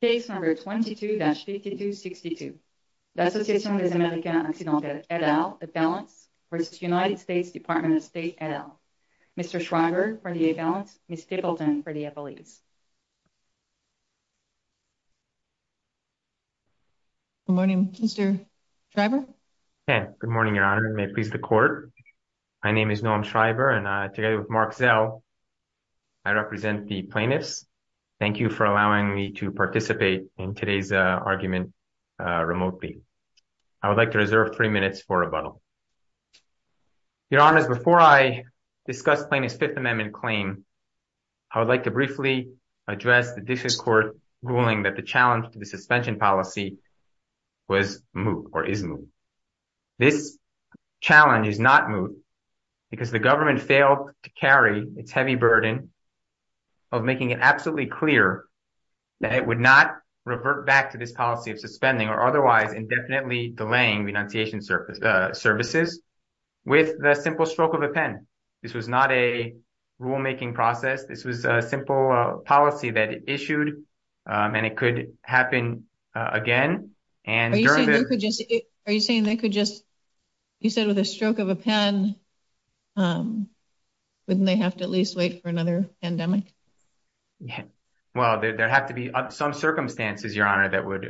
Case No. 22-5262, L'Association des Américains Accidentels et d'Al, A Balance, v. United States Department of State et d'Al. Mr. Schreiber for the A Balance, Ms. Tippleton for the Appellees. Good morning, Mr. Schreiber. Good morning, Your Honor, and may it please the Court. My name is Noam Schreiber, and together with Mark Zell, I represent the plaintiffs. Thank you for allowing me to participate in today's argument remotely. I would like to reserve three minutes for rebuttal. Your Honors, before I discuss Plaintiff's Fifth Amendment claim, I would like to briefly address the District Court ruling that the challenge to the suspension policy was moot, or is moot. This challenge is not moot because the government failed to carry its heavy burden of making it absolutely clear that it would not revert back to this policy of suspending or otherwise indefinitely delaying renunciation services with the simple stroke of a pen. This was not a rulemaking process. This was a simple policy that it issued, and it could happen again. And during the— Are you saying they could just—you said with a stroke of a pen, wouldn't they have to at least wait for another pandemic? Well, there have to be some circumstances, Your Honor, that would—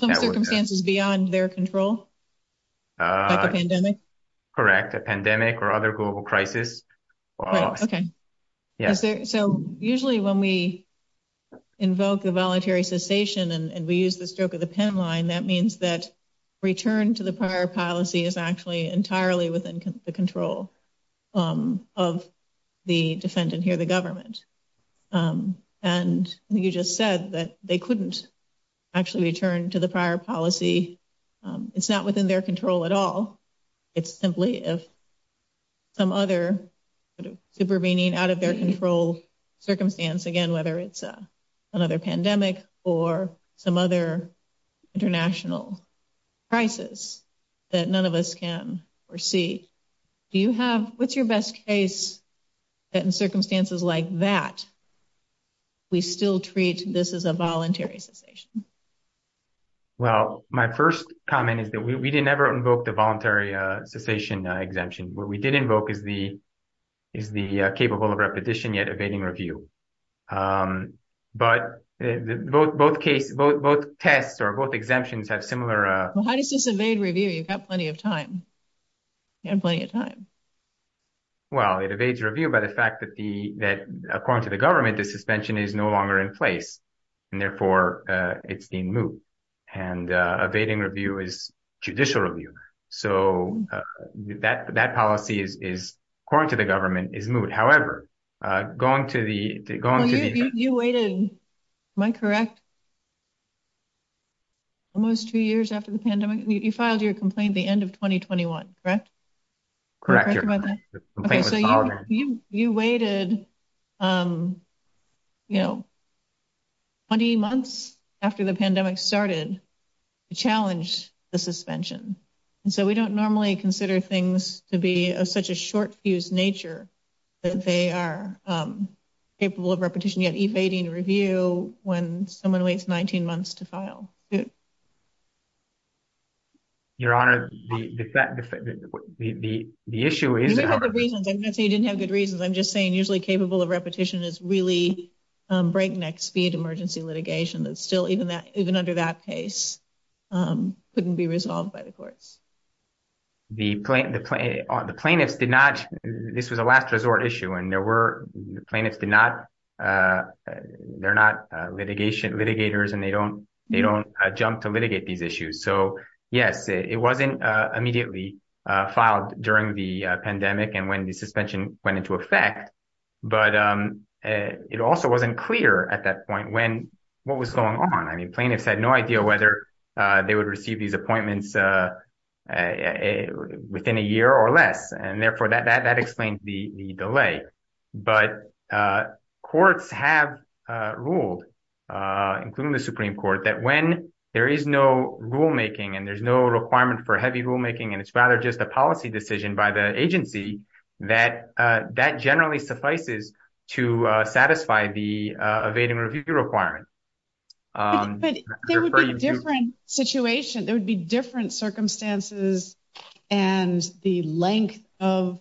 Some circumstances beyond their control? Like a pandemic? Correct, a pandemic or other global crisis. Right, okay. Yes. So usually when we invoke the voluntary cessation and we use the stroke of the pen line, that means that return to the prior policy is actually entirely within the control of the defendant here, the government. And you just said that they couldn't actually return to the prior policy. It's not within their control at all. It's simply some other supervening out of their control circumstance, again, whether it's another pandemic or some other international crisis that none of us can foresee. Do you have—what's your best case that in circumstances like that, we still treat this as a voluntary cessation? Well, my first comment is that we didn't ever invoke the voluntary cessation exemption. What we did invoke is the capable of repetition yet evading review. But both tests or both exemptions have similar— Well, how does this evade review? You've got plenty of time. You have plenty of time. Well, it evades review by the fact that, according to the government, the suspension is no longer in place, and therefore it's being moved. And evading review is judicial review. So that policy is, according to the government, is moved. However, going to the— You waited—am I correct? Almost two years after the pandemic? You filed your complaint at the end of 2021, correct? Correct. Okay, so you waited, you know, 20 months after the pandemic started to challenge the suspension. And so we don't normally consider things to be of such a short-fused nature that they are capable of repetition yet evading review when someone waits 19 months to file. Your Honor, the issue is— You didn't have good reasons. I'm not saying you didn't have good reasons. I'm just saying usually capable of repetition is really breakneck speed emergency litigation that still, even under that case, couldn't be resolved by the courts. The plaintiffs did not—this was a last resort issue, and there were—the plaintiffs did not—they're not litigators, and they don't jump to litigate these issues. So, yes, it wasn't immediately filed during the pandemic and when the suspension went into effect, but it also wasn't clear at that point when—what was going on. I mean, plaintiffs had no idea whether they would receive these appointments within a year or less, and therefore that explains the delay. But courts have ruled, including the Supreme Court, that when there is no rulemaking and there's no requirement for heavy rulemaking and it's rather just a policy decision by the agency, that that generally suffices to satisfy the evading review requirement. But there would be a different situation. There would be different circumstances, and the length of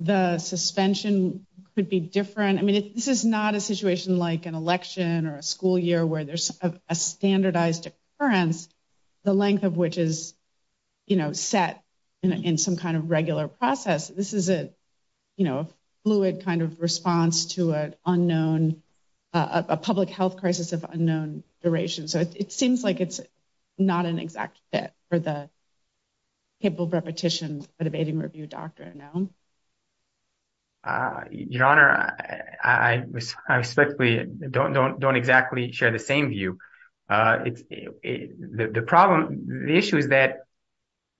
the suspension could be different. I mean, this is not a situation like an election or a school year where there's a standardized occurrence, the length of which is set in some kind of regular process. This is a fluid kind of response to an unknown—a public health crisis of unknown duration. So it seems like it's not an exact fit for the capable of repetition evading review doctrine. Your Honor, I respectfully don't exactly share the same view. The problem—the issue is that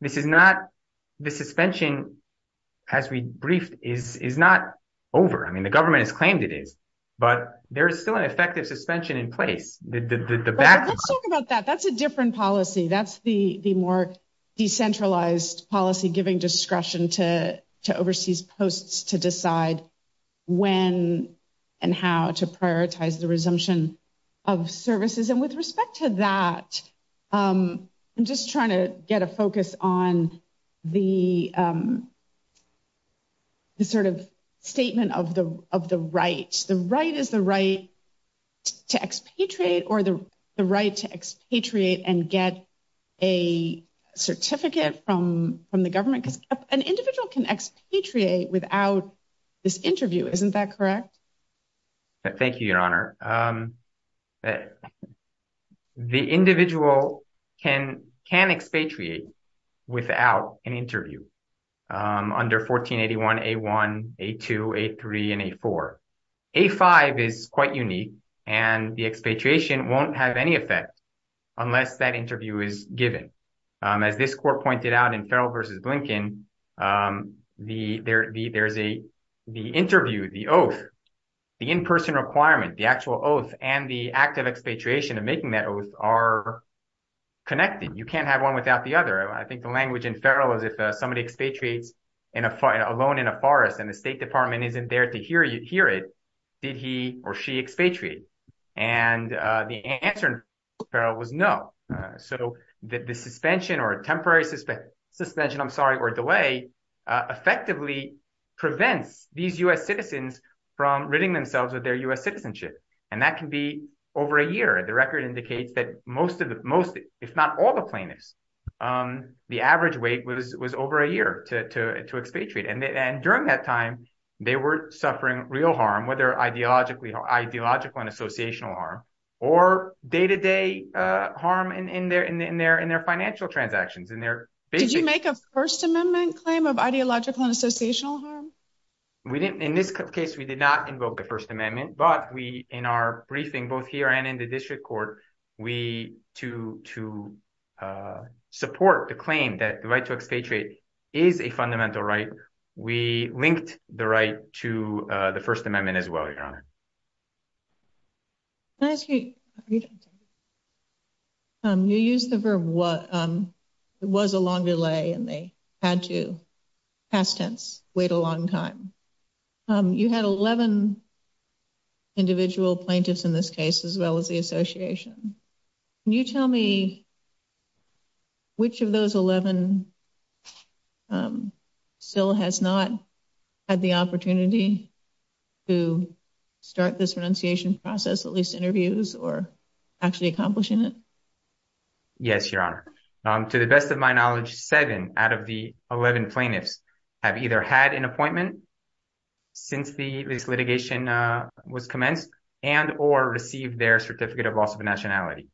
this is not—the suspension, as we briefed, is not over. I mean, the government has claimed it is, but there is still an effective suspension in place. Let's talk about that. That's a different policy. That's the more decentralized policy giving discretion to overseas posts to decide when and how to prioritize the resumption of services. And with respect to that, I'm just trying to get a focus on the sort of statement of the right. The right is the right to expatriate or the right to expatriate and get a certificate from the government? Because an individual can expatriate without this interview. Isn't that correct? Your Honor, the individual can expatriate without an interview under 1481, A-1, A-2, A-3, and A-4. A-5 is quite unique, and the expatriation won't have any effect unless that interview is given. As this court pointed out in Farrell v. Blinken, the interview, the oath, the in-person requirement, the actual oath, and the act of expatriation and making that oath are connected. You can't have one without the other. I think the language in Farrell is if somebody expatriates alone in a forest and the State Department isn't there to hear it, did he or she expatriate? And the answer in Farrell was no. So the suspension or temporary suspension, I'm sorry, or delay effectively prevents these U.S. citizens from ridding themselves of their U.S. citizenship. And that can be over a year. The record indicates that most, if not all the plaintiffs, the average wait was over a year to expatriate. And during that time, they were suffering real harm, whether ideological and associational harm or day-to-day harm in their financial transactions. Did you make a First Amendment claim of ideological and associational harm? We didn't. In this case, we did not invoke the First Amendment. But we in our briefing, both here and in the district court, we to to support the claim that the right to expatriate is a fundamental right. We linked the right to the First Amendment as well. Can I ask you, you used the verb what was a long delay and they had to, past tense, wait a long time. You had 11 individual plaintiffs in this case, as well as the association. Can you tell me which of those 11 still has not had the opportunity to start this renunciation process, at least interviews or actually accomplishing it? Yes, Your Honor. To the best of my knowledge, seven out of the 11 plaintiffs have either had an appointment since this litigation was commenced and or received their certificate of loss of nationality.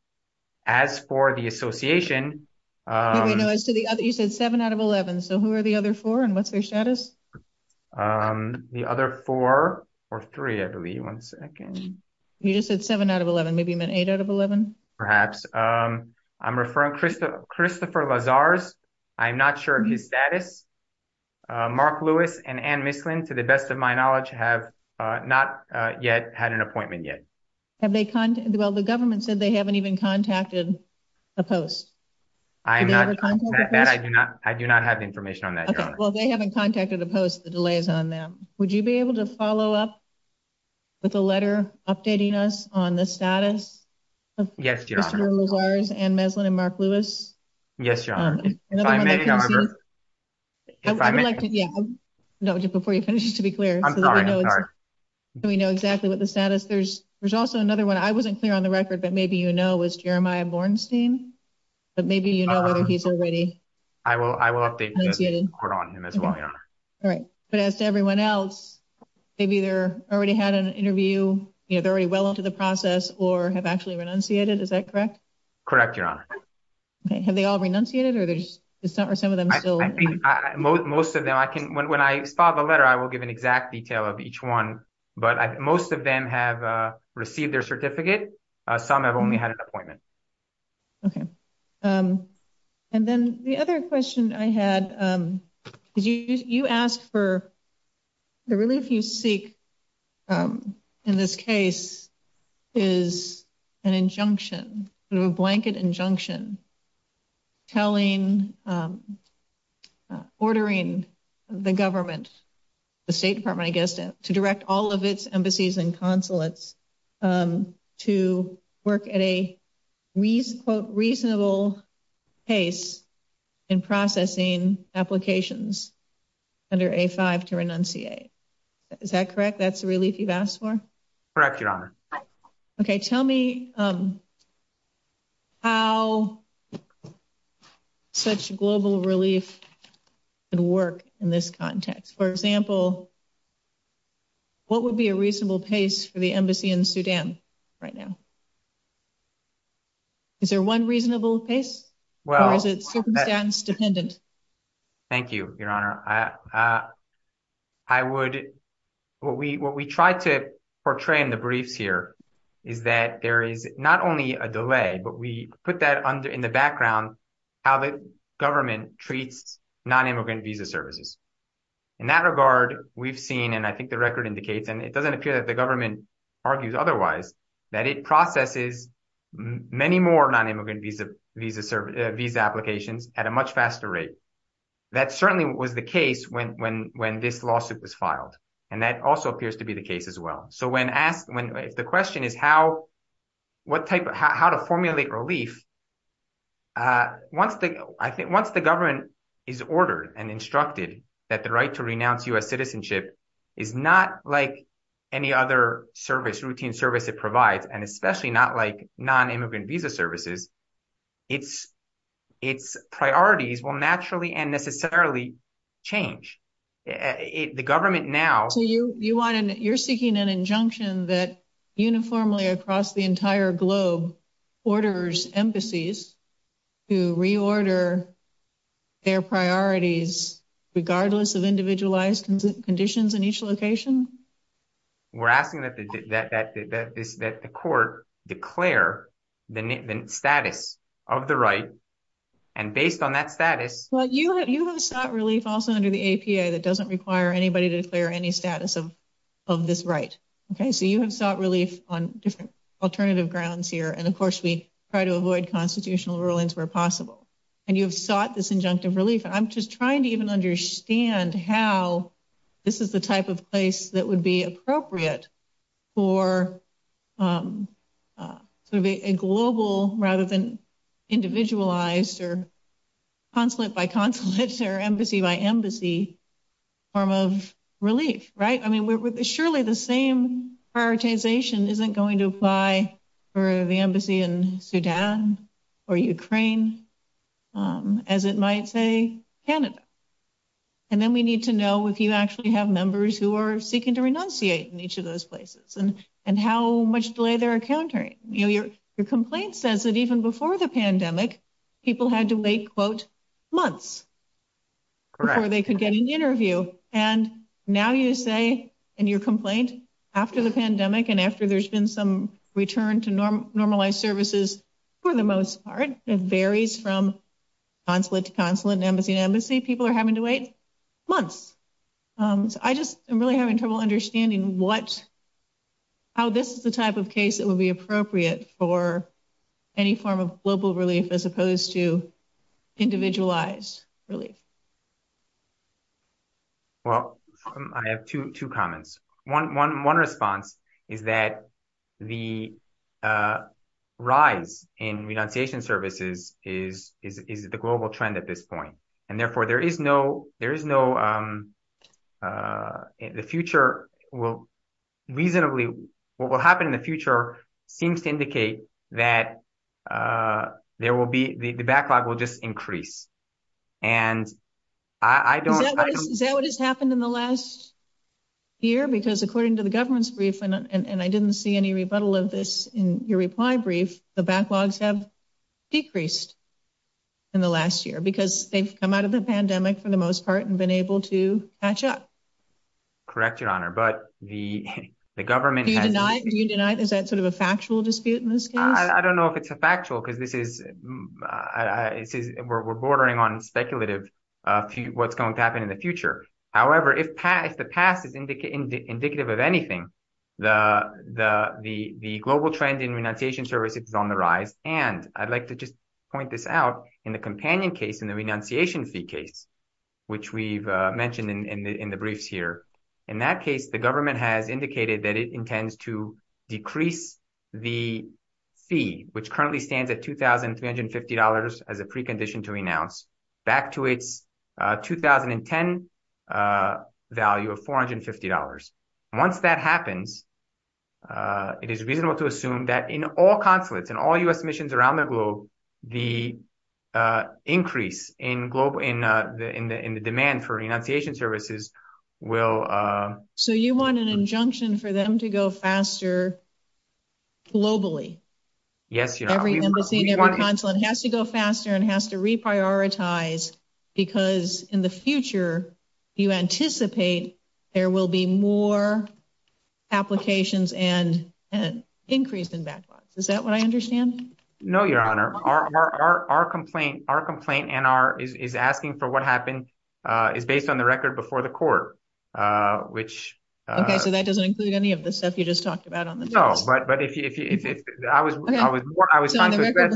As for the association. You said seven out of 11. So who are the other four and what's their status? The other four or three, I believe. One second. You just said seven out of 11. Maybe you meant eight out of 11? Perhaps. I'm referring to Christopher Lazar's. I'm not sure of his status. Mark Lewis and Ann Mislin, to the best of my knowledge, have not yet had an appointment yet. Have they contacted? Well, the government said they haven't even contacted the post. I do not. I do not have information on that. Well, they haven't contacted the post, the delays on them. Would you be able to follow up with a letter updating us on the status of Christopher Lazar's, Ann Mislin and Mark Lewis? Yes, Your Honor. If I may, Your Honor. Before you finish, just to be clear. I'm sorry. Do we know exactly what the status is? There's also another one. I wasn't clear on the record, but maybe you know, was Jeremiah Bornstein. But maybe, you know, whether he's already. I will. I will update you on him as well. All right. But as to everyone else, maybe they're already had an interview. You know, they're already well into the process or have actually renunciated. Is that correct? Correct, Your Honor. Have they all renunciated or there's some of them still? Most of them I can when I saw the letter, I will give an exact detail of each one. But most of them have received their certificate. Some have only had an appointment. Okay. And then the other question I had is you asked for the relief you seek in this case is an injunction through a blanket injunction. Telling ordering the government, the State Department, I guess, to direct all of its embassies and consulates to work at a reasonable pace in processing applications under a five to renunciate. Is that correct? That's a relief you've asked for? Correct, Your Honor. Okay. Tell me how such global relief could work in this context. For example, what would be a reasonable pace for the embassy in Sudan right now? Is there one reasonable pace? Thank you, Your Honor. I would what we what we tried to portray in the briefs here is that there is not only a delay, but we put that under in the background, how the government treats nonimmigrant visa services. In that regard, we've seen and I think the record indicates, and it doesn't appear that the government argues otherwise, that it processes many more nonimmigrant visa applications at a much faster rate. That certainly was the case when this lawsuit was filed. And that also appears to be the case as well. So when asked when the question is how, what type of how to formulate relief? Once the government is ordered and instructed that the right to renounce U.S. citizenship is not like any other service, routine service it provides, and especially not like nonimmigrant visa services, its priorities will naturally and necessarily change. The government now. You're seeking an injunction that uniformly across the entire globe orders embassies to reorder their priorities, regardless of individualized conditions in each location? We're asking that the court declare the status of the right. And based on that status. Well, you have sought relief also under the APA that doesn't require anybody to declare any status of of this right. Okay, so you have sought relief on different alternative grounds here. And of course, we try to avoid constitutional rulings where possible. And you have sought this injunctive relief. I'm just trying to even understand how this is the type of place that would be appropriate for a global rather than individualized or consulate by consulate or embassy by embassy form of relief. Right. I mean, surely the same prioritization isn't going to apply for the embassy in Sudan or Ukraine, as it might say, Canada. And then we need to know if you actually have members who are seeking to renunciate in each of those places and and how much delay they're encountering. Your complaint says that even before the pandemic, people had to wait, quote, months before they could get an interview. And now you say in your complaint after the pandemic and after there's been some return to normal normalized services for the most part, it varies from consulate to consulate and embassy to embassy. I think people are having to wait months. So I just am really having trouble understanding what how this is the type of case that would be appropriate for any form of global relief as opposed to individualized relief. Well, I have two comments. One response is that the rise in renunciation services is the global trend at this point, and therefore there is no there is no the future will reasonably what will happen in the future seems to indicate that there will be the backlog will just increase. And I don't know what has happened in the last year, because according to the government's briefing, and I didn't see any rebuttal of this in your reply brief, the backlogs have decreased in the last year because they've come out of the pandemic for the most part and been able to catch up. Correct, Your Honor, but the, the government denied you denied is that sort of a factual dispute in this case, I don't know if it's a factual because this is, it says we're bordering on speculative to what's going to happen in the future. However, if the past is indicative of anything, the global trend in renunciation services is on the rise. And I'd like to just point this out in the companion case in the renunciation fee case, which we've mentioned in the briefs here. In that case, the government has indicated that it intends to decrease the fee, which currently stands at $2,350 as a precondition to renounce back to its 2010 value of $450. Once that happens, it is reasonable to assume that in all consulates and all U.S. missions around the globe, the increase in global, in the demand for renunciation services will. So you want an injunction for them to go faster globally? Yes, you have to go faster and has to reprioritize because in the future, you anticipate there will be more applications and an increase in backlogs. Is that what I understand? No, Your Honor, our, our, our complaint, our complaint and our is asking for what happened is based on the record before the court, which. Okay, so that doesn't include any of the stuff you just talked about. No, but, but if I was, I was, I was on the record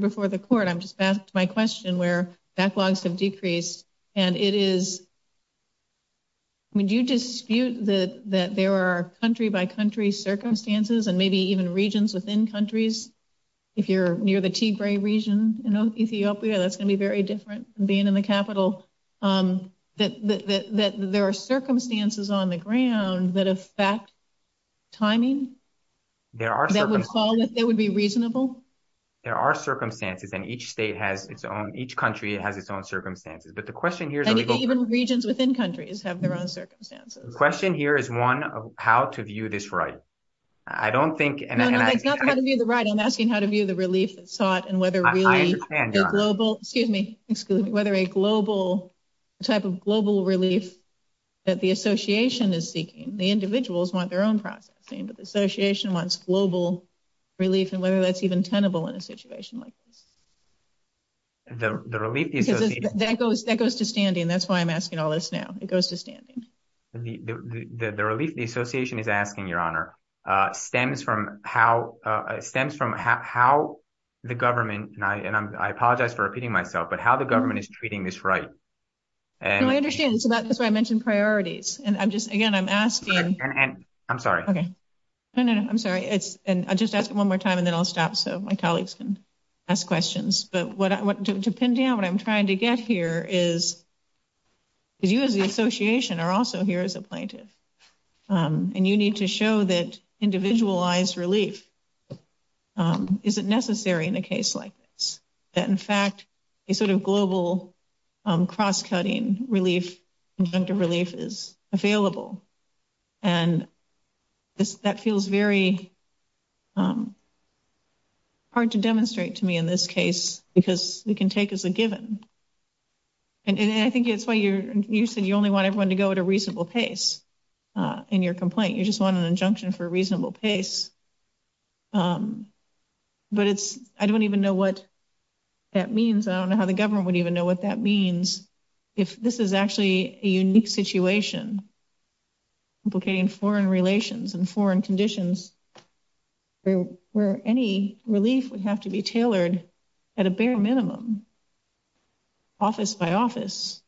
before the court, I'm just back to my question where backlogs have decreased and it is. I mean, do you dispute that that there are country by country circumstances and maybe even regions within countries? If you're near the Tigray region in Ethiopia, that's going to be very different being in the capital that there are circumstances on the ground that affect timing. There are some that would be reasonable. There are circumstances and each state has its own. Each country has its own circumstances. But the question here is even regions within countries have their own circumstances. The question here is one of how to view this, right? I don't think it's not going to be the right. I'm asking how to view the relief that sought and whether global, excuse me, whether a global type of global relief. That the association is seeking the individuals want their own processing, but the association wants global relief and whether that's even tenable in a situation like this. The relief that goes to standing. That's why I'm asking all this now. It goes to standing. The relief the association is asking your honor stems from how stems from how the government and I apologize for repeating myself, but how the government is treating this right. And I understand. So that's why I mentioned priorities. And I'm just again, I'm asking. I'm sorry. Okay. No, no, no. I'm sorry. It's just asking one more time and then I'll stop. So my colleagues can ask questions. But what I want to pin down what I'm trying to get here is. Is you as the association are also here as a plaintiff and you need to show that individualized relief. Is it necessary in a case like that? In fact, a sort of global cross cutting relief. Relief is available and that feels very hard to demonstrate to me in this case because we can take as a given. And I think it's why you said you only want everyone to go at a reasonable pace in your complaint. You just want an injunction for a reasonable pace. But it's I don't even know what that means. I don't know how the government would even know what that means. If this is actually a unique situation, implicating foreign relations and foreign conditions where any relief would have to be tailored at a bare minimum. Office by office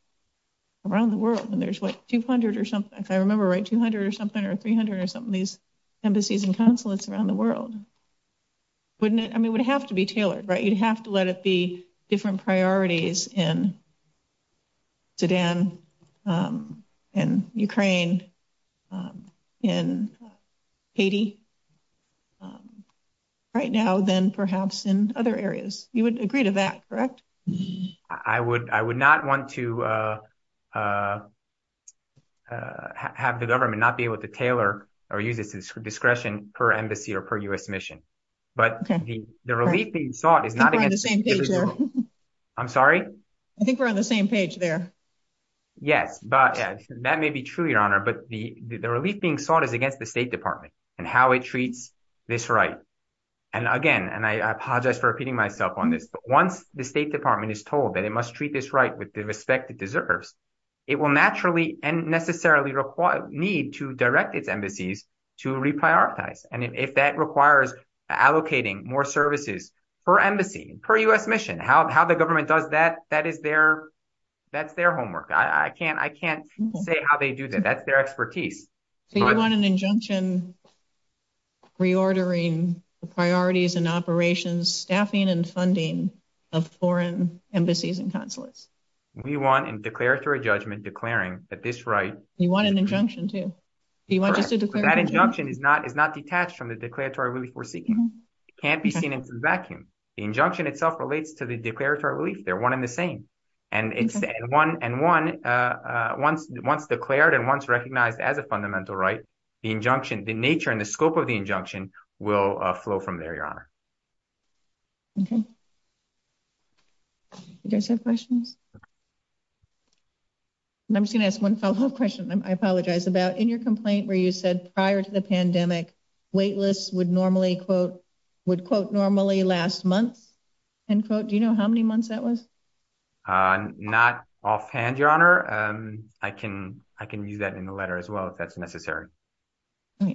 around the world. And there's like two hundred or something. I remember right. Two hundred or something or three hundred or something. These embassies and consulates around the world. Wouldn't it? I mean, it would have to be tailored, right? You'd have to let it be different priorities in. Sudan and Ukraine and Haiti. Right now, then perhaps in other areas, you would agree to that, correct? I would I would not want to have the government not be able to tailor or use its discretion per embassy or per U.S. mission. But the relief being sought is not the same. I'm sorry. I think we're on the same page there. Yes, but that may be true, Your Honor. But the relief being sought is against the State Department and how it treats this right. And again, and I apologize for repeating myself on this, but once the State Department is told that it must treat this right with the respect it deserves, it will naturally and necessarily require need to direct its embassies to reprioritize. And if that requires allocating more services per embassy, per U.S. mission, how the government does that, that is their that's their homework. I can't I can't say how they do that. That's their expertise. So you want an injunction reordering the priorities and operations, staffing and funding of foreign embassies and consulates? We want a declaratory judgment declaring that this right. You want an injunction too? That injunction is not is not detached from the declaratory relief we're seeking. It can't be seen in some vacuum. The injunction itself relates to the declaratory relief. They're one in the same. And it's one and one once once declared and once recognized as a fundamental right, the injunction, the nature and the scope of the injunction will flow from there, Your Honor. OK. You guys have questions. And I'm just going to ask one follow up question, I apologize about in your complaint where you said prior to the pandemic, waitlists would normally, quote, would quote normally last month and quote. Do you know how many months that was not offhand, Your Honor? I can I can use that in the letter as well, if that's necessary. I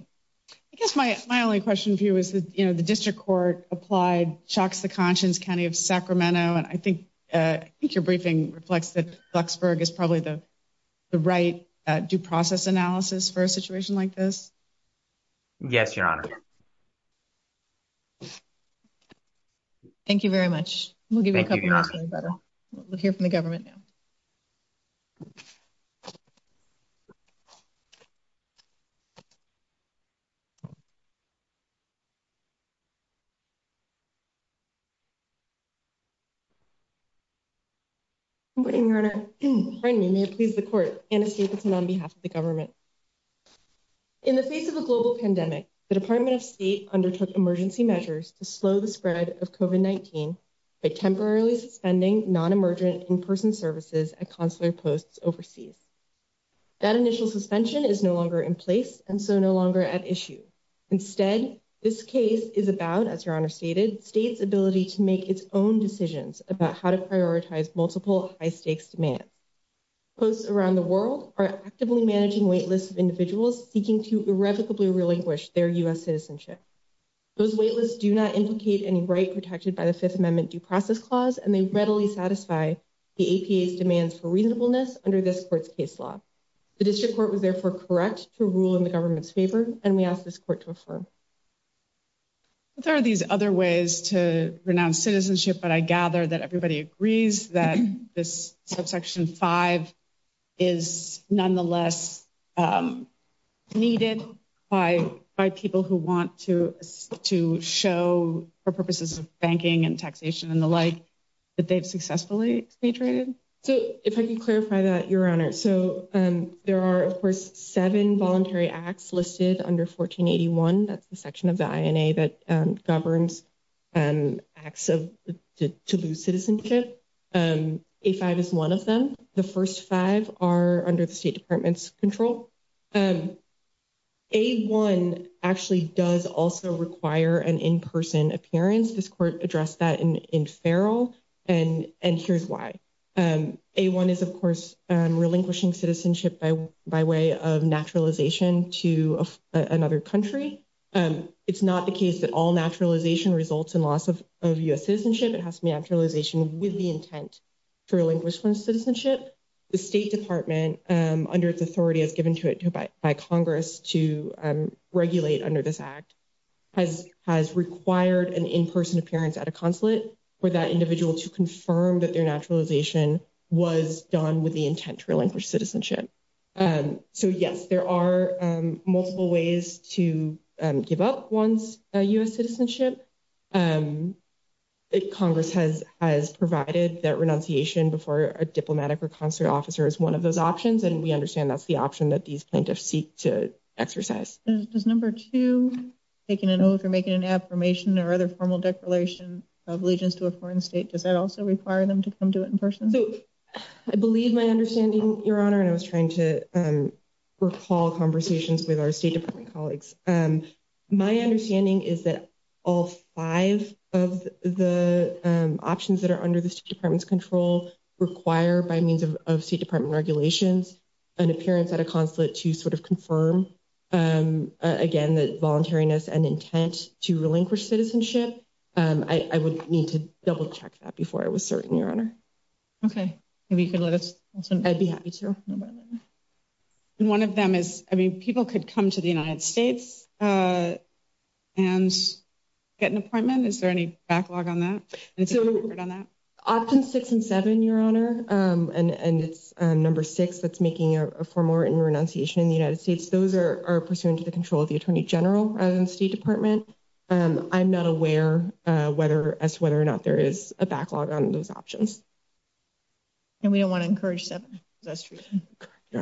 guess my my only question for you is, you know, the district court applied Chalks to Conscience County of Sacramento. And I think I think your briefing reflects that Luxburg is probably the right due process analysis for a situation like this. Yes, Your Honor. Thank you very much. We'll give you a couple of minutes. We'll hear from the government now. Thank you, Your Honor. Thank you, Your Honor. And so no longer at issue. Instead, this case is about, as Your Honor stated, state's ability to make its own decisions about how to prioritize multiple high stakes demand. Posts around the world are actively managing waitlists of individuals seeking to irrevocably relinquish their US citizenship. Those waitlists do not implicate any right protected by the Fifth Amendment due process clause, and they readily satisfy the APA's demands for reasonableness under this court's case law. The district court was therefore correct to rule in the government's favor, and we ask this court to affirm. There are these other ways to renounce citizenship, but I gather that everybody agrees that this subsection five is nonetheless needed by by people who want to to show for purposes of banking and taxation and the like that they've successfully. So, if I can clarify that, Your Honor, so there are, of course, seven voluntary acts listed under 1481. That's the section of the INA that governs and acts of to lose citizenship. If I was one of them, the first five are under the State Department's control. A-1 actually does also require an in-person appearance. This court addressed that in Farrell, and here's why. A-1 is, of course, relinquishing citizenship by way of naturalization to another country. It's not the case that all naturalization results in loss of US citizenship. It has to be naturalization with the intent to relinquish one's citizenship. The State Department, under its authority as given to it by Congress to regulate under this act, has required an in-person appearance at a consulate for that individual to confirm that their naturalization was done with the intent to relinquish citizenship. So, yes, there are multiple ways to give up one's US citizenship. Congress has provided that renunciation before a diplomatic or consulate officer is one of those options, and we understand that's the option that these plaintiffs seek to exercise. Does number two, taking an oath or making an affirmation or other formal declaration of allegiance to a foreign state, does that also require them to come to it in person? So, I believe my understanding, Your Honor, and I was trying to recall conversations with our State Department colleagues. My understanding is that all five of the options that are under the State Department's control require, by means of State Department regulations, an appearance at a consulate to sort of confirm, again, that voluntariness and intent to relinquish citizenship. I would need to double check that before I was certain, Your Honor. Okay. Maybe you could let us know. I'd be happy to. And one of them is, I mean, people could come to the United States and get an appointment. Is there any backlog on that? Options six and seven, Your Honor, and it's number six that's making a formal written renunciation in the United States, those are pursuant to the control of the Attorney General of the State Department. I'm not aware as to whether or not there is a backlog on those options. And we don't want to encourage seven. Do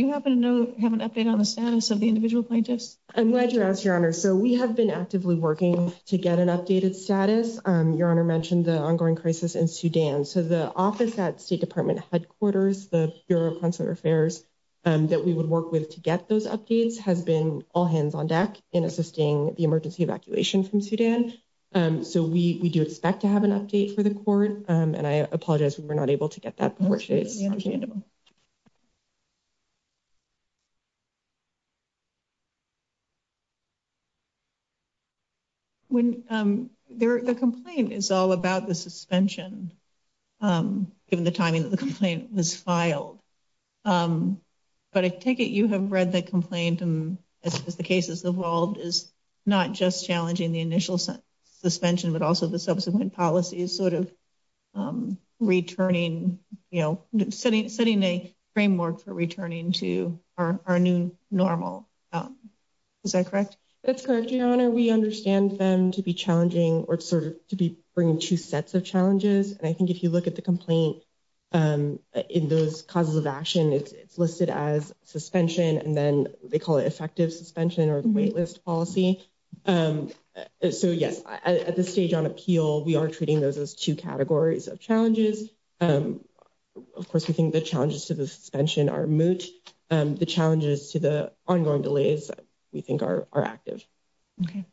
you happen to have an update on the status of the individual plaintiffs? I'm glad you asked, Your Honor. So, we have been actively working to get an updated status. Your Honor mentioned the ongoing crisis in Sudan. So, the office at State Department headquarters, the Bureau of Consular Affairs that we would work with to get those updates has been all hands on deck in assisting the emergency evacuation from Sudan. So, we do expect to have an update for the court. And I apologize, we were not able to get that before today's hearing. The complaint is all about the suspension, given the timing that the complaint was filed. But I take it you have read the complaint, and as the case has evolved, is not just challenging the initial suspension, but also the subsequent policies sort of returning, you know, setting a framework for returning to our new normal. Is that correct? That's correct, Your Honor. We understand them to be challenging or sort of to be bringing two sets of challenges. And I think if you look at the complaint in those causes of action, it's listed as suspension, and then they call it effective suspension or the wait list policy. So, yes, at this stage on appeal, we are treating those as two categories of challenges. Of course, we think the challenges to the suspension are moot. The challenges to the ongoing delays we think are active. Okay.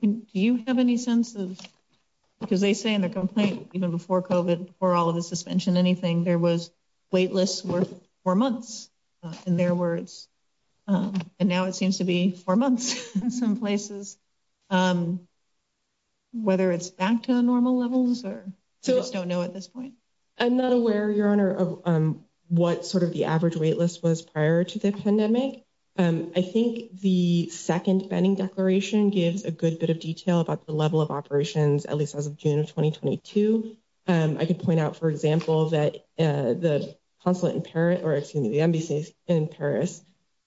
Do you have any sense of, because they say in the complaint, even before COVID, or all of the suspension, anything, there was wait lists worth four months in their words. And now it seems to be four months in some places. Whether it's back to normal levels or just don't know at this point. I'm not aware, Your Honor, of what sort of the average wait list was prior to the pandemic. I think the second pending declaration gives a good bit of detail about the level of operations, at least as of June of twenty, twenty two. I can point out, for example, that the consulate in Paris, or excuse me, the embassies in Paris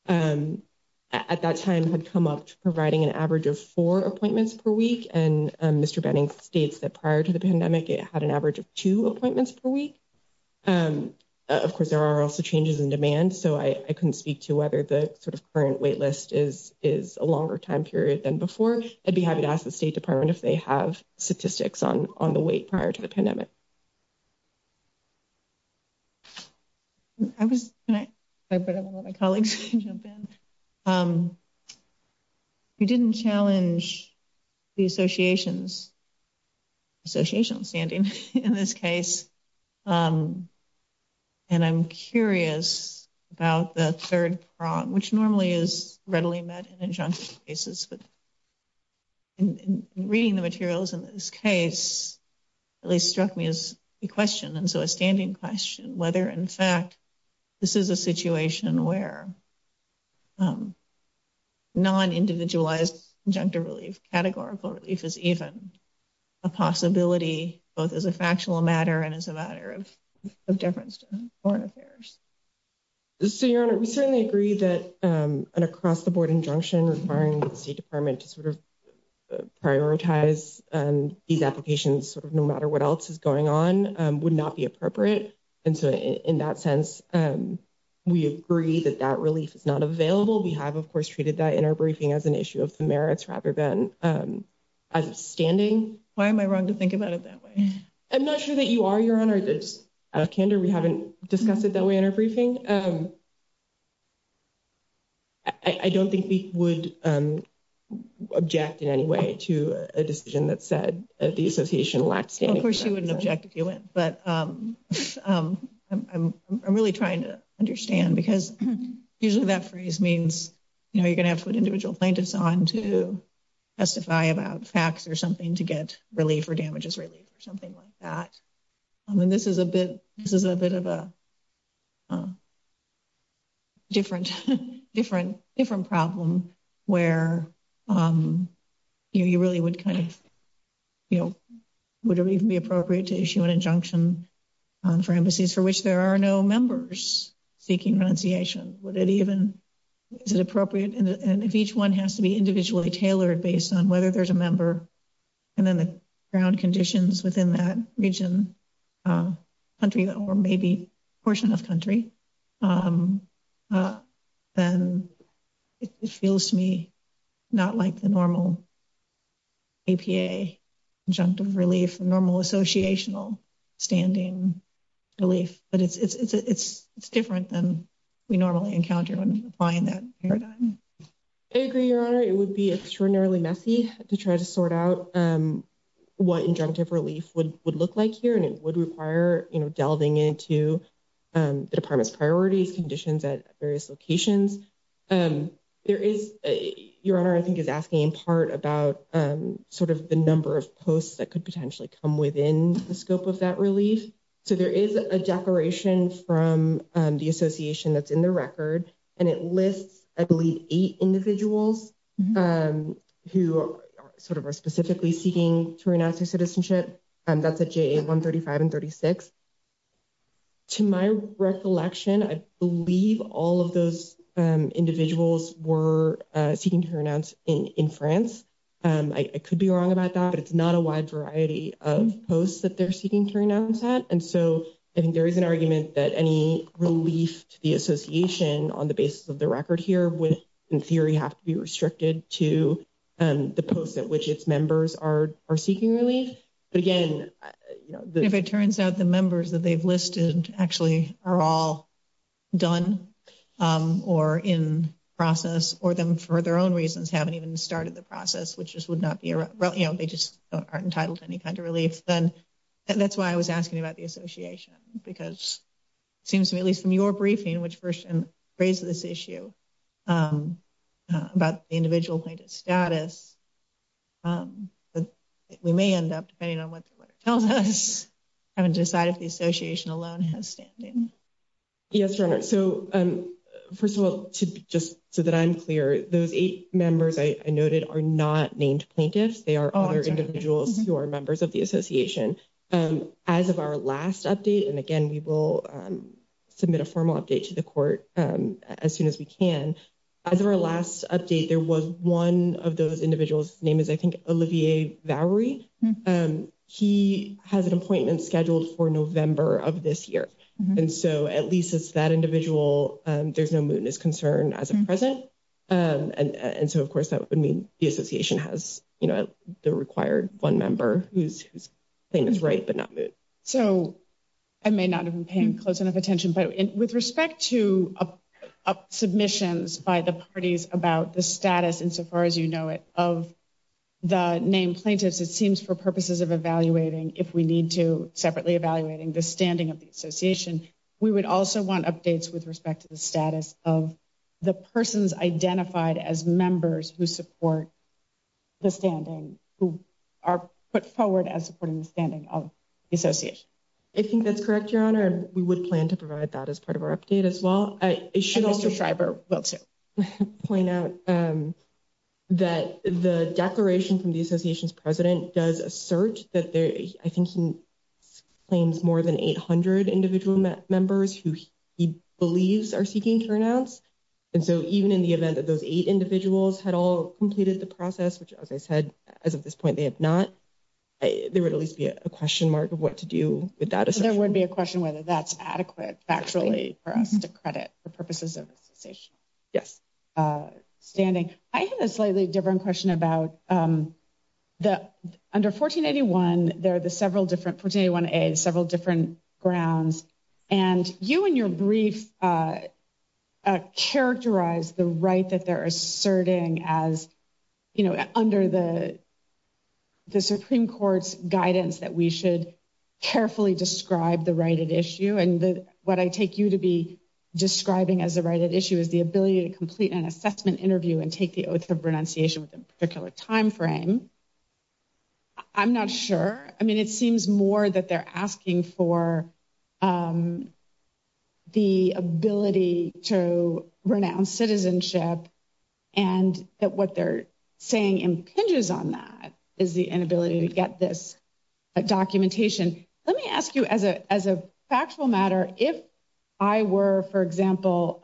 at that time had come up to providing an average of four appointments per week. And Mr. Benning states that prior to the pandemic, it had an average of two appointments per week. Of course, there are also changes in demand, so I couldn't speak to whether the sort of current wait list is is a longer time period than before. I'd be happy to ask the State Department if they have statistics on on the wait prior to the pandemic. I was my colleagues jump in. You didn't challenge the associations. Association standing in this case. And I'm curious about the third prong, which normally is readily met in a junk cases, but reading the materials in this case, at least struck me as a question. And so a standing question whether, in fact, this is a situation where. Non individualized junk to relieve categorical, if it's even a possibility, both as a factual matter and as a matter of difference to foreign affairs. So, your honor, we certainly agree that an across the board injunction requiring the department to sort of prioritize these applications, no matter what else is going on would not be appropriate. And so, in that sense, we agree that that relief is not available. We have, of course, treated that in our briefing as an issue of the merits rather than standing. Why am I wrong to think about it that way? I'm not sure that you are your honor. Candor we haven't discussed it that way in our briefing. I don't think we would object in any way to a decision that said the association lacks. Of course, you wouldn't object if you went, but I'm really trying to understand because usually that phrase means, you know, you're gonna have to put individual plaintiffs on to testify about facts or something to get relief or damages relief or something like that. I mean, this is a bit this is a bit of a different, different, different problem where you really would kind of, you know, would it be appropriate to issue an injunction for embassies for which there are no members seeking renunciation? Would it even is it appropriate? And if each one has to be individually tailored based on whether there's a member, and then the ground conditions within that region country, or maybe portion of country, then it feels to me. Not like the normal junk of relief normal associational standing relief, but it's, it's, it's, it's different than we normally encounter when applying that paradigm. I agree your honor it would be extraordinarily messy to try to sort out what injunctive relief would would look like here and it would require delving into the department's priorities conditions at various locations. There is your honor I think is asking in part about sort of the number of posts that could potentially come within the scope of that relief. So, there is a declaration from the association that's in the record, and it lists, I believe, eight individuals who sort of are specifically seeking to renounce your citizenship. And that's a one thirty five and thirty six to my recollection. I believe all of those individuals were seeking to renounce in France. I could be wrong about that, but it's not a wide variety of posts that they're seeking to renounce that. And so, I think there is an argument that any relief to the association on the basis of the record here with, in theory, have to be restricted to the post at which its members are are seeking relief. But again, if it turns out the members that they've listed actually are all done or in process, or them for their own reasons, haven't even started the process, which just would not be they just aren't entitled to any kind of relief. Then that's why I was asking about the association, because it seems to me, at least from your briefing, which first raised this issue about the individual status. But we may end up depending on what it tells us haven't decided the association alone has standing. Yes, so first of all, just so that I'm clear, those eight members I noted are not named plaintiffs. They are other individuals who are members of the association as of our last update. And again, we will submit a formal update to the court as soon as we can. As our last update, there was one of those individuals name is, I think, Olivier Valerie. He has an appointment scheduled for November of this year. And so at least it's that individual. There's no mood is concerned as a present. And so, of course, that would mean the association has the required one member who's thing is right, but not. So, I may not have been paying close enough attention, but with respect to submissions by the parties about the status insofar as, you know, it of the name plaintiffs. It seems for purposes of evaluating if we need to separately evaluating the standing of the association. We would also want updates with respect to the status of the persons identified as members who support the standing who are put forward as supporting the standing of the association. I think that's correct. Your honor. We would plan to provide that as part of our update as well. I should also point out that the declaration from the association's president does assert that. I think he claims more than 800 individual members who he believes are seeking turnouts. And so, even in the event that those eight individuals had all completed the process, which, as I said, as of this point, they have not, there would at least be a question mark of what to do with that. I think the question whether that's adequate actually for us to credit for purposes of station. Yes. Standing. I have a slightly different question about the under 1481. And you and your brief characterize the right that they're asserting as, you know, under the, the Supreme Court's guidance that we should carefully describe the right at issue. And what I take you to be describing as the right at issue is the ability to complete an assessment interview and take the oath of renunciation within a particular timeframe. I'm not sure. I mean, it seems more that they're asking for the ability to renounce citizenship and that what they're saying impinges on that is the inability to get this documentation. Let me ask you, as a, as a factual matter, if I were, for example,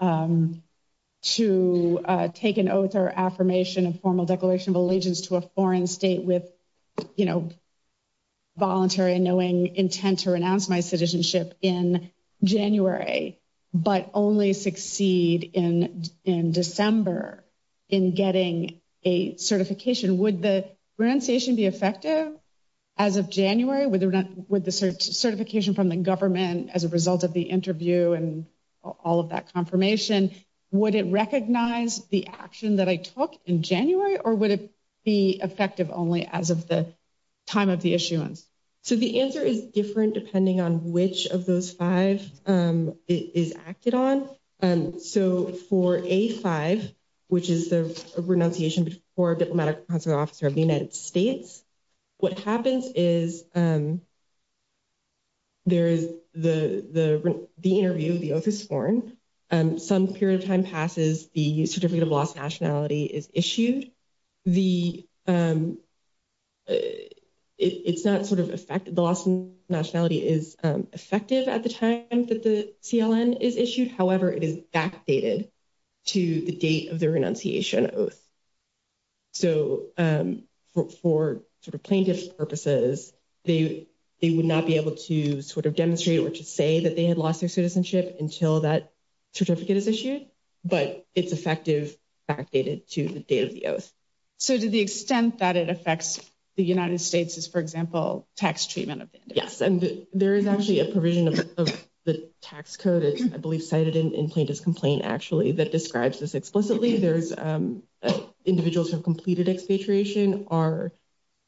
to take an oath or affirmation of formal declaration of allegiance to a foreign state with, you know, voluntary and knowing intent to renounce my citizenship in January. But only succeed in in December in getting a certification, would the renunciation be effective as of January with with the certification from the government as a result of the interview and all of that confirmation? Would it recognize the action that I took in January or would it be effective only as of the time of the issuance? So, the answer is different depending on which of those five is acted on. So, for a five, which is the renunciation for diplomatic officer of the United States. What happens is there is the, the, the interview, the oath is sworn, some period of time passes, the certificate of lost nationality is issued. The, it's not sort of effect, the lost nationality is effective at the time that the CLN is issued. However, it is backdated to the date of the renunciation oath. So, for plaintiff's purposes, they, they would not be able to sort of demonstrate or to say that they had lost their citizenship until that certificate is issued. But it's effective backdated to the date of the oath. So, to the extent that it affects the United States is, for example, tax treatment. Yes. And there is actually a provision of the tax code, I believe, cited in plaintiff's complaint, actually, that describes this explicitly. There's individuals who have completed expatriation are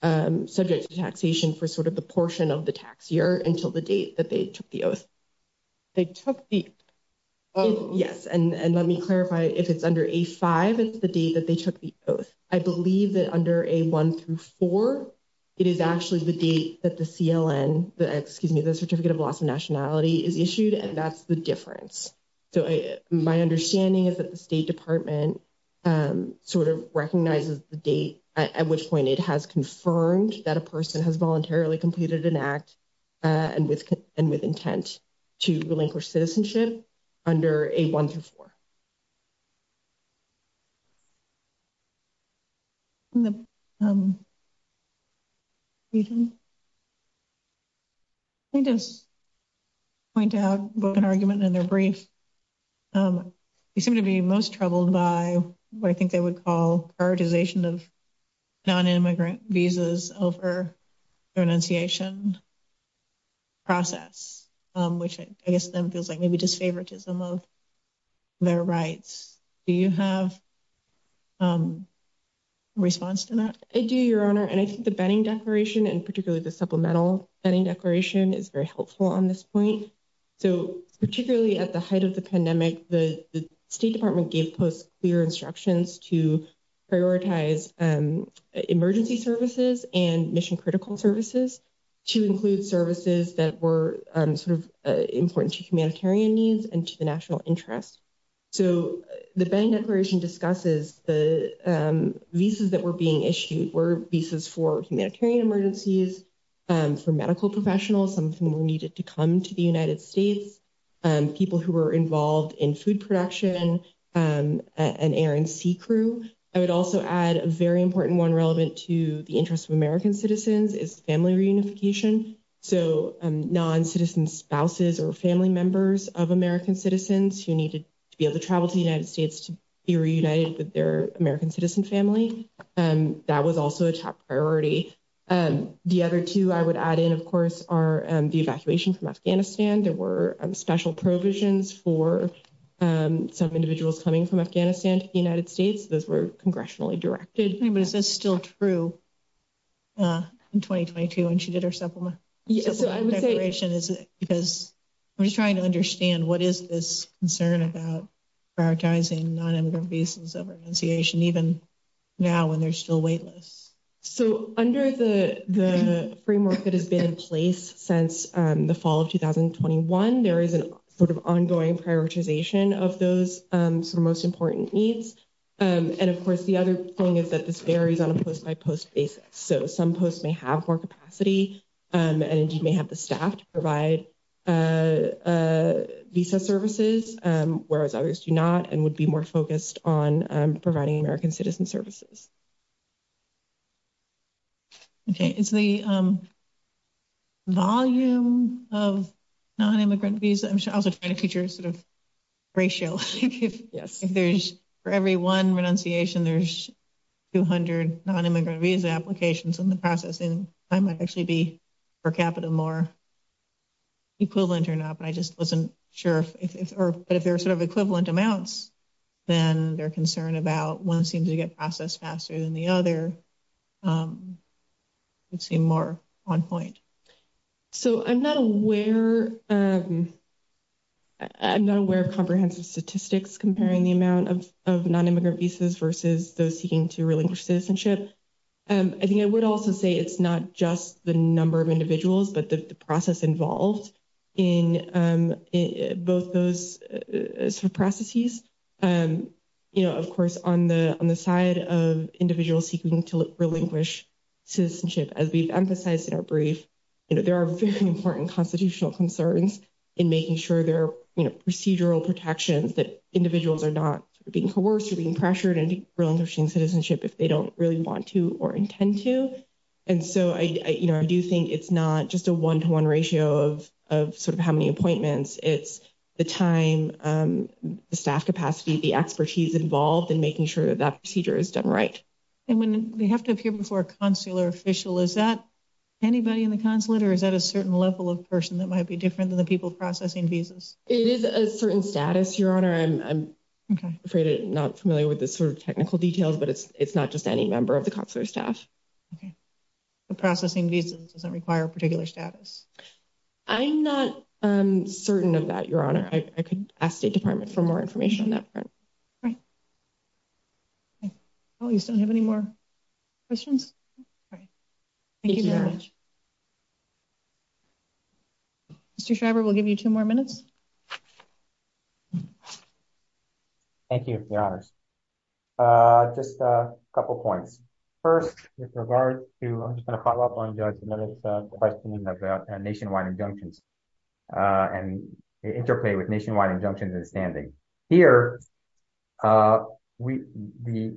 subject to taxation for sort of the portion of the tax year until the date that they took the oath. They took the, yes, and let me clarify if it's under a five, it's the date that they took the oath. I believe that under a one through four, it is actually the date that the CLN, the excuse me, the certificate of loss of nationality is issued and that's the difference. So, my understanding is that the State Department sort of recognizes the date at which point it has confirmed that a person has voluntarily completed an act and with and with intent to relinquish citizenship under a one through four. I just point out an argument in their brief. You seem to be most troubled by what I think they would call prioritization of nonimmigrant visas over their enunciation process, which I guess then feels like maybe just favoritism of their rights. Do you have a response to that? I do your honor and I think the banning declaration and particularly the supplemental any declaration is very helpful on this point. So, particularly at the height of the pandemic, the State Department gave post clear instructions to prioritize emergency services and mission critical services to include services that were sort of important to humanitarian needs and to the national interest. So, the bank declaration discusses the visas that were being issued were visas for humanitarian emergencies, for medical professionals, something we needed to come to the United States, people who were involved in food production and air and sea crew. I would also add a very important one relevant to the interest of American citizens is family reunification. So, non citizen spouses or family members of American citizens who needed to be able to travel to the United States to be reunited with their American citizen family. And that was also a top priority. And the other 2, I would add in, of course, are the evacuation from Afghanistan. There were special provisions for some individuals coming from Afghanistan to the United States. Those were congressionally directed. But is this still true in 2022? And she did her supplement declaration is because I'm just trying to understand what is this concern about prioritizing nonemigrant visas of renunciation even now when there's still wait lists. So, under the framework that has been in place since the fall of 2021, there is an sort of ongoing prioritization of those sort of most important needs. And of course, the other thing is that this varies on a post by post basis. So, some posts may have more capacity and you may have the staff to provide visa services, whereas others do not and would be more focused on providing American citizen services. Okay, it's the volume of nonimmigrant visa. I'm also trying to feature sort of ratio. Yes, there's for every 1 renunciation, there's 200 nonimmigrant visa applications in the process. So, I'm not aware. I'm not aware of comprehensive statistics comparing the amount of of nonimmigrant visas versus those seeking to relinquish citizenship. I think I would also say it's not just the number of individuals, but the process involved in both those processes, of course, on the on the side of individual seeking to relinquish citizenship as we've emphasized in our brief. There are very important constitutional concerns in making sure they're procedural protections that individuals are not being coerced or being pressured and relinquishing citizenship if they don't really want to or intend to. And so I do think it's not just a 1 to 1 ratio of of sort of how many appointments it's the time, the staff capacity, the expertise involved in making sure that that procedure is done. Right? And when we have to appear before a consular official, is that anybody in the consulate or is that a certain level of person that might be different than the people processing visas? It is a certain status. Your honor. I'm afraid not familiar with this sort of technical details, but it's it's not just any member of the consular staff. Okay, the processing visa doesn't require a particular status. I'm not certain of that. Your honor. I could ask the department for more information on that. All right. I don't have any more questions. Thank you very much. Mr. Schreiber will give you two more minutes. Thank you. Just a couple of points. First, with regard to, I'm just going to follow up on Judge's question about nationwide injunctions and interplay with nationwide injunctions and standing. Here, the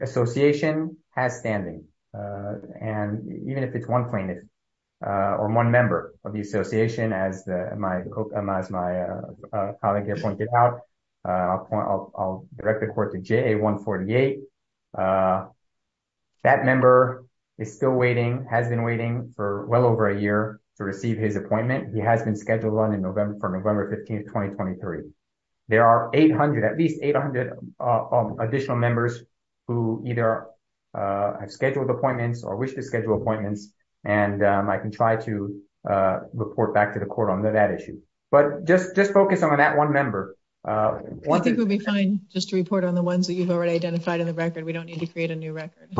association has standing. And even if it's one plaintiff or one member of the association, as my colleague here pointed out, I'll direct the court to JA 148. That member is still waiting, has been waiting for well over a year to receive his appointment. He has been scheduled on in November, from November 15, 2023. There are 800, at least 800 additional members who either have scheduled appointments or wish to schedule appointments, and I can try to report back to the court on that issue. But just just focus on that one member. I think we'll be fine just to report on the ones that you've already identified in the record. We don't need to create a new record.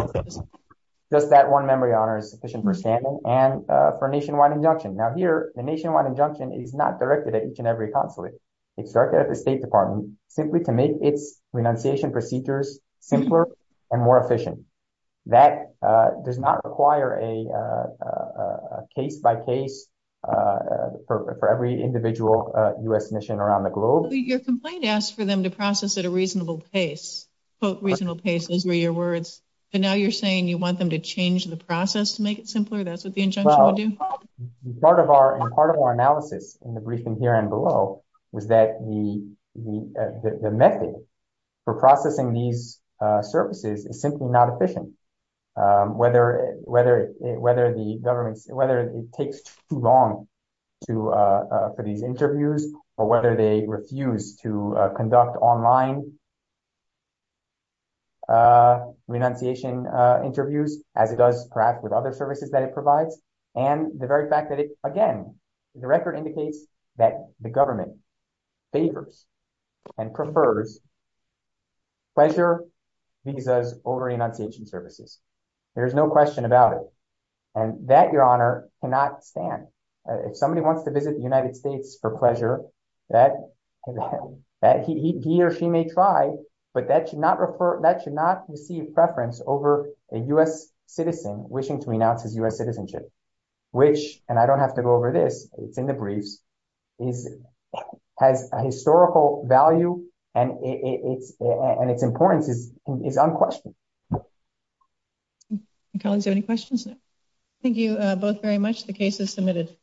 Just that one member, your honor, is sufficient for standing and for nationwide injunction. Now here, the nationwide injunction is not directed at each and every consulate. It's directed at the State Department simply to make its renunciation procedures simpler and more efficient. That does not require a case-by-case for every individual U.S. mission around the globe. Your complaint asks for them to process at a reasonable pace, quote, reasonable pace. Those were your words. And now you're saying you want them to change the process to make it simpler? That's what the injunction would do? Part of our analysis in the briefing here and below was that the method for processing these services is simply not efficient. Whether it takes too long for these interviews or whether they refuse to conduct online renunciation interviews, as it does perhaps with other services that it provides. And the very fact that, again, the record indicates that the government favors and prefers pleasure visas over renunciation services. There is no question about it. And that, your honor, cannot stand. If somebody wants to visit the United States for pleasure, he or she may try, but that should not receive preference over a U.S. citizen wishing to renounce his U.S. citizenship. Which, and I don't have to go over this, it's in the briefs, has a historical value and its importance is unquestioned. Colleagues, any questions? Thank you both very much. The case is submitted.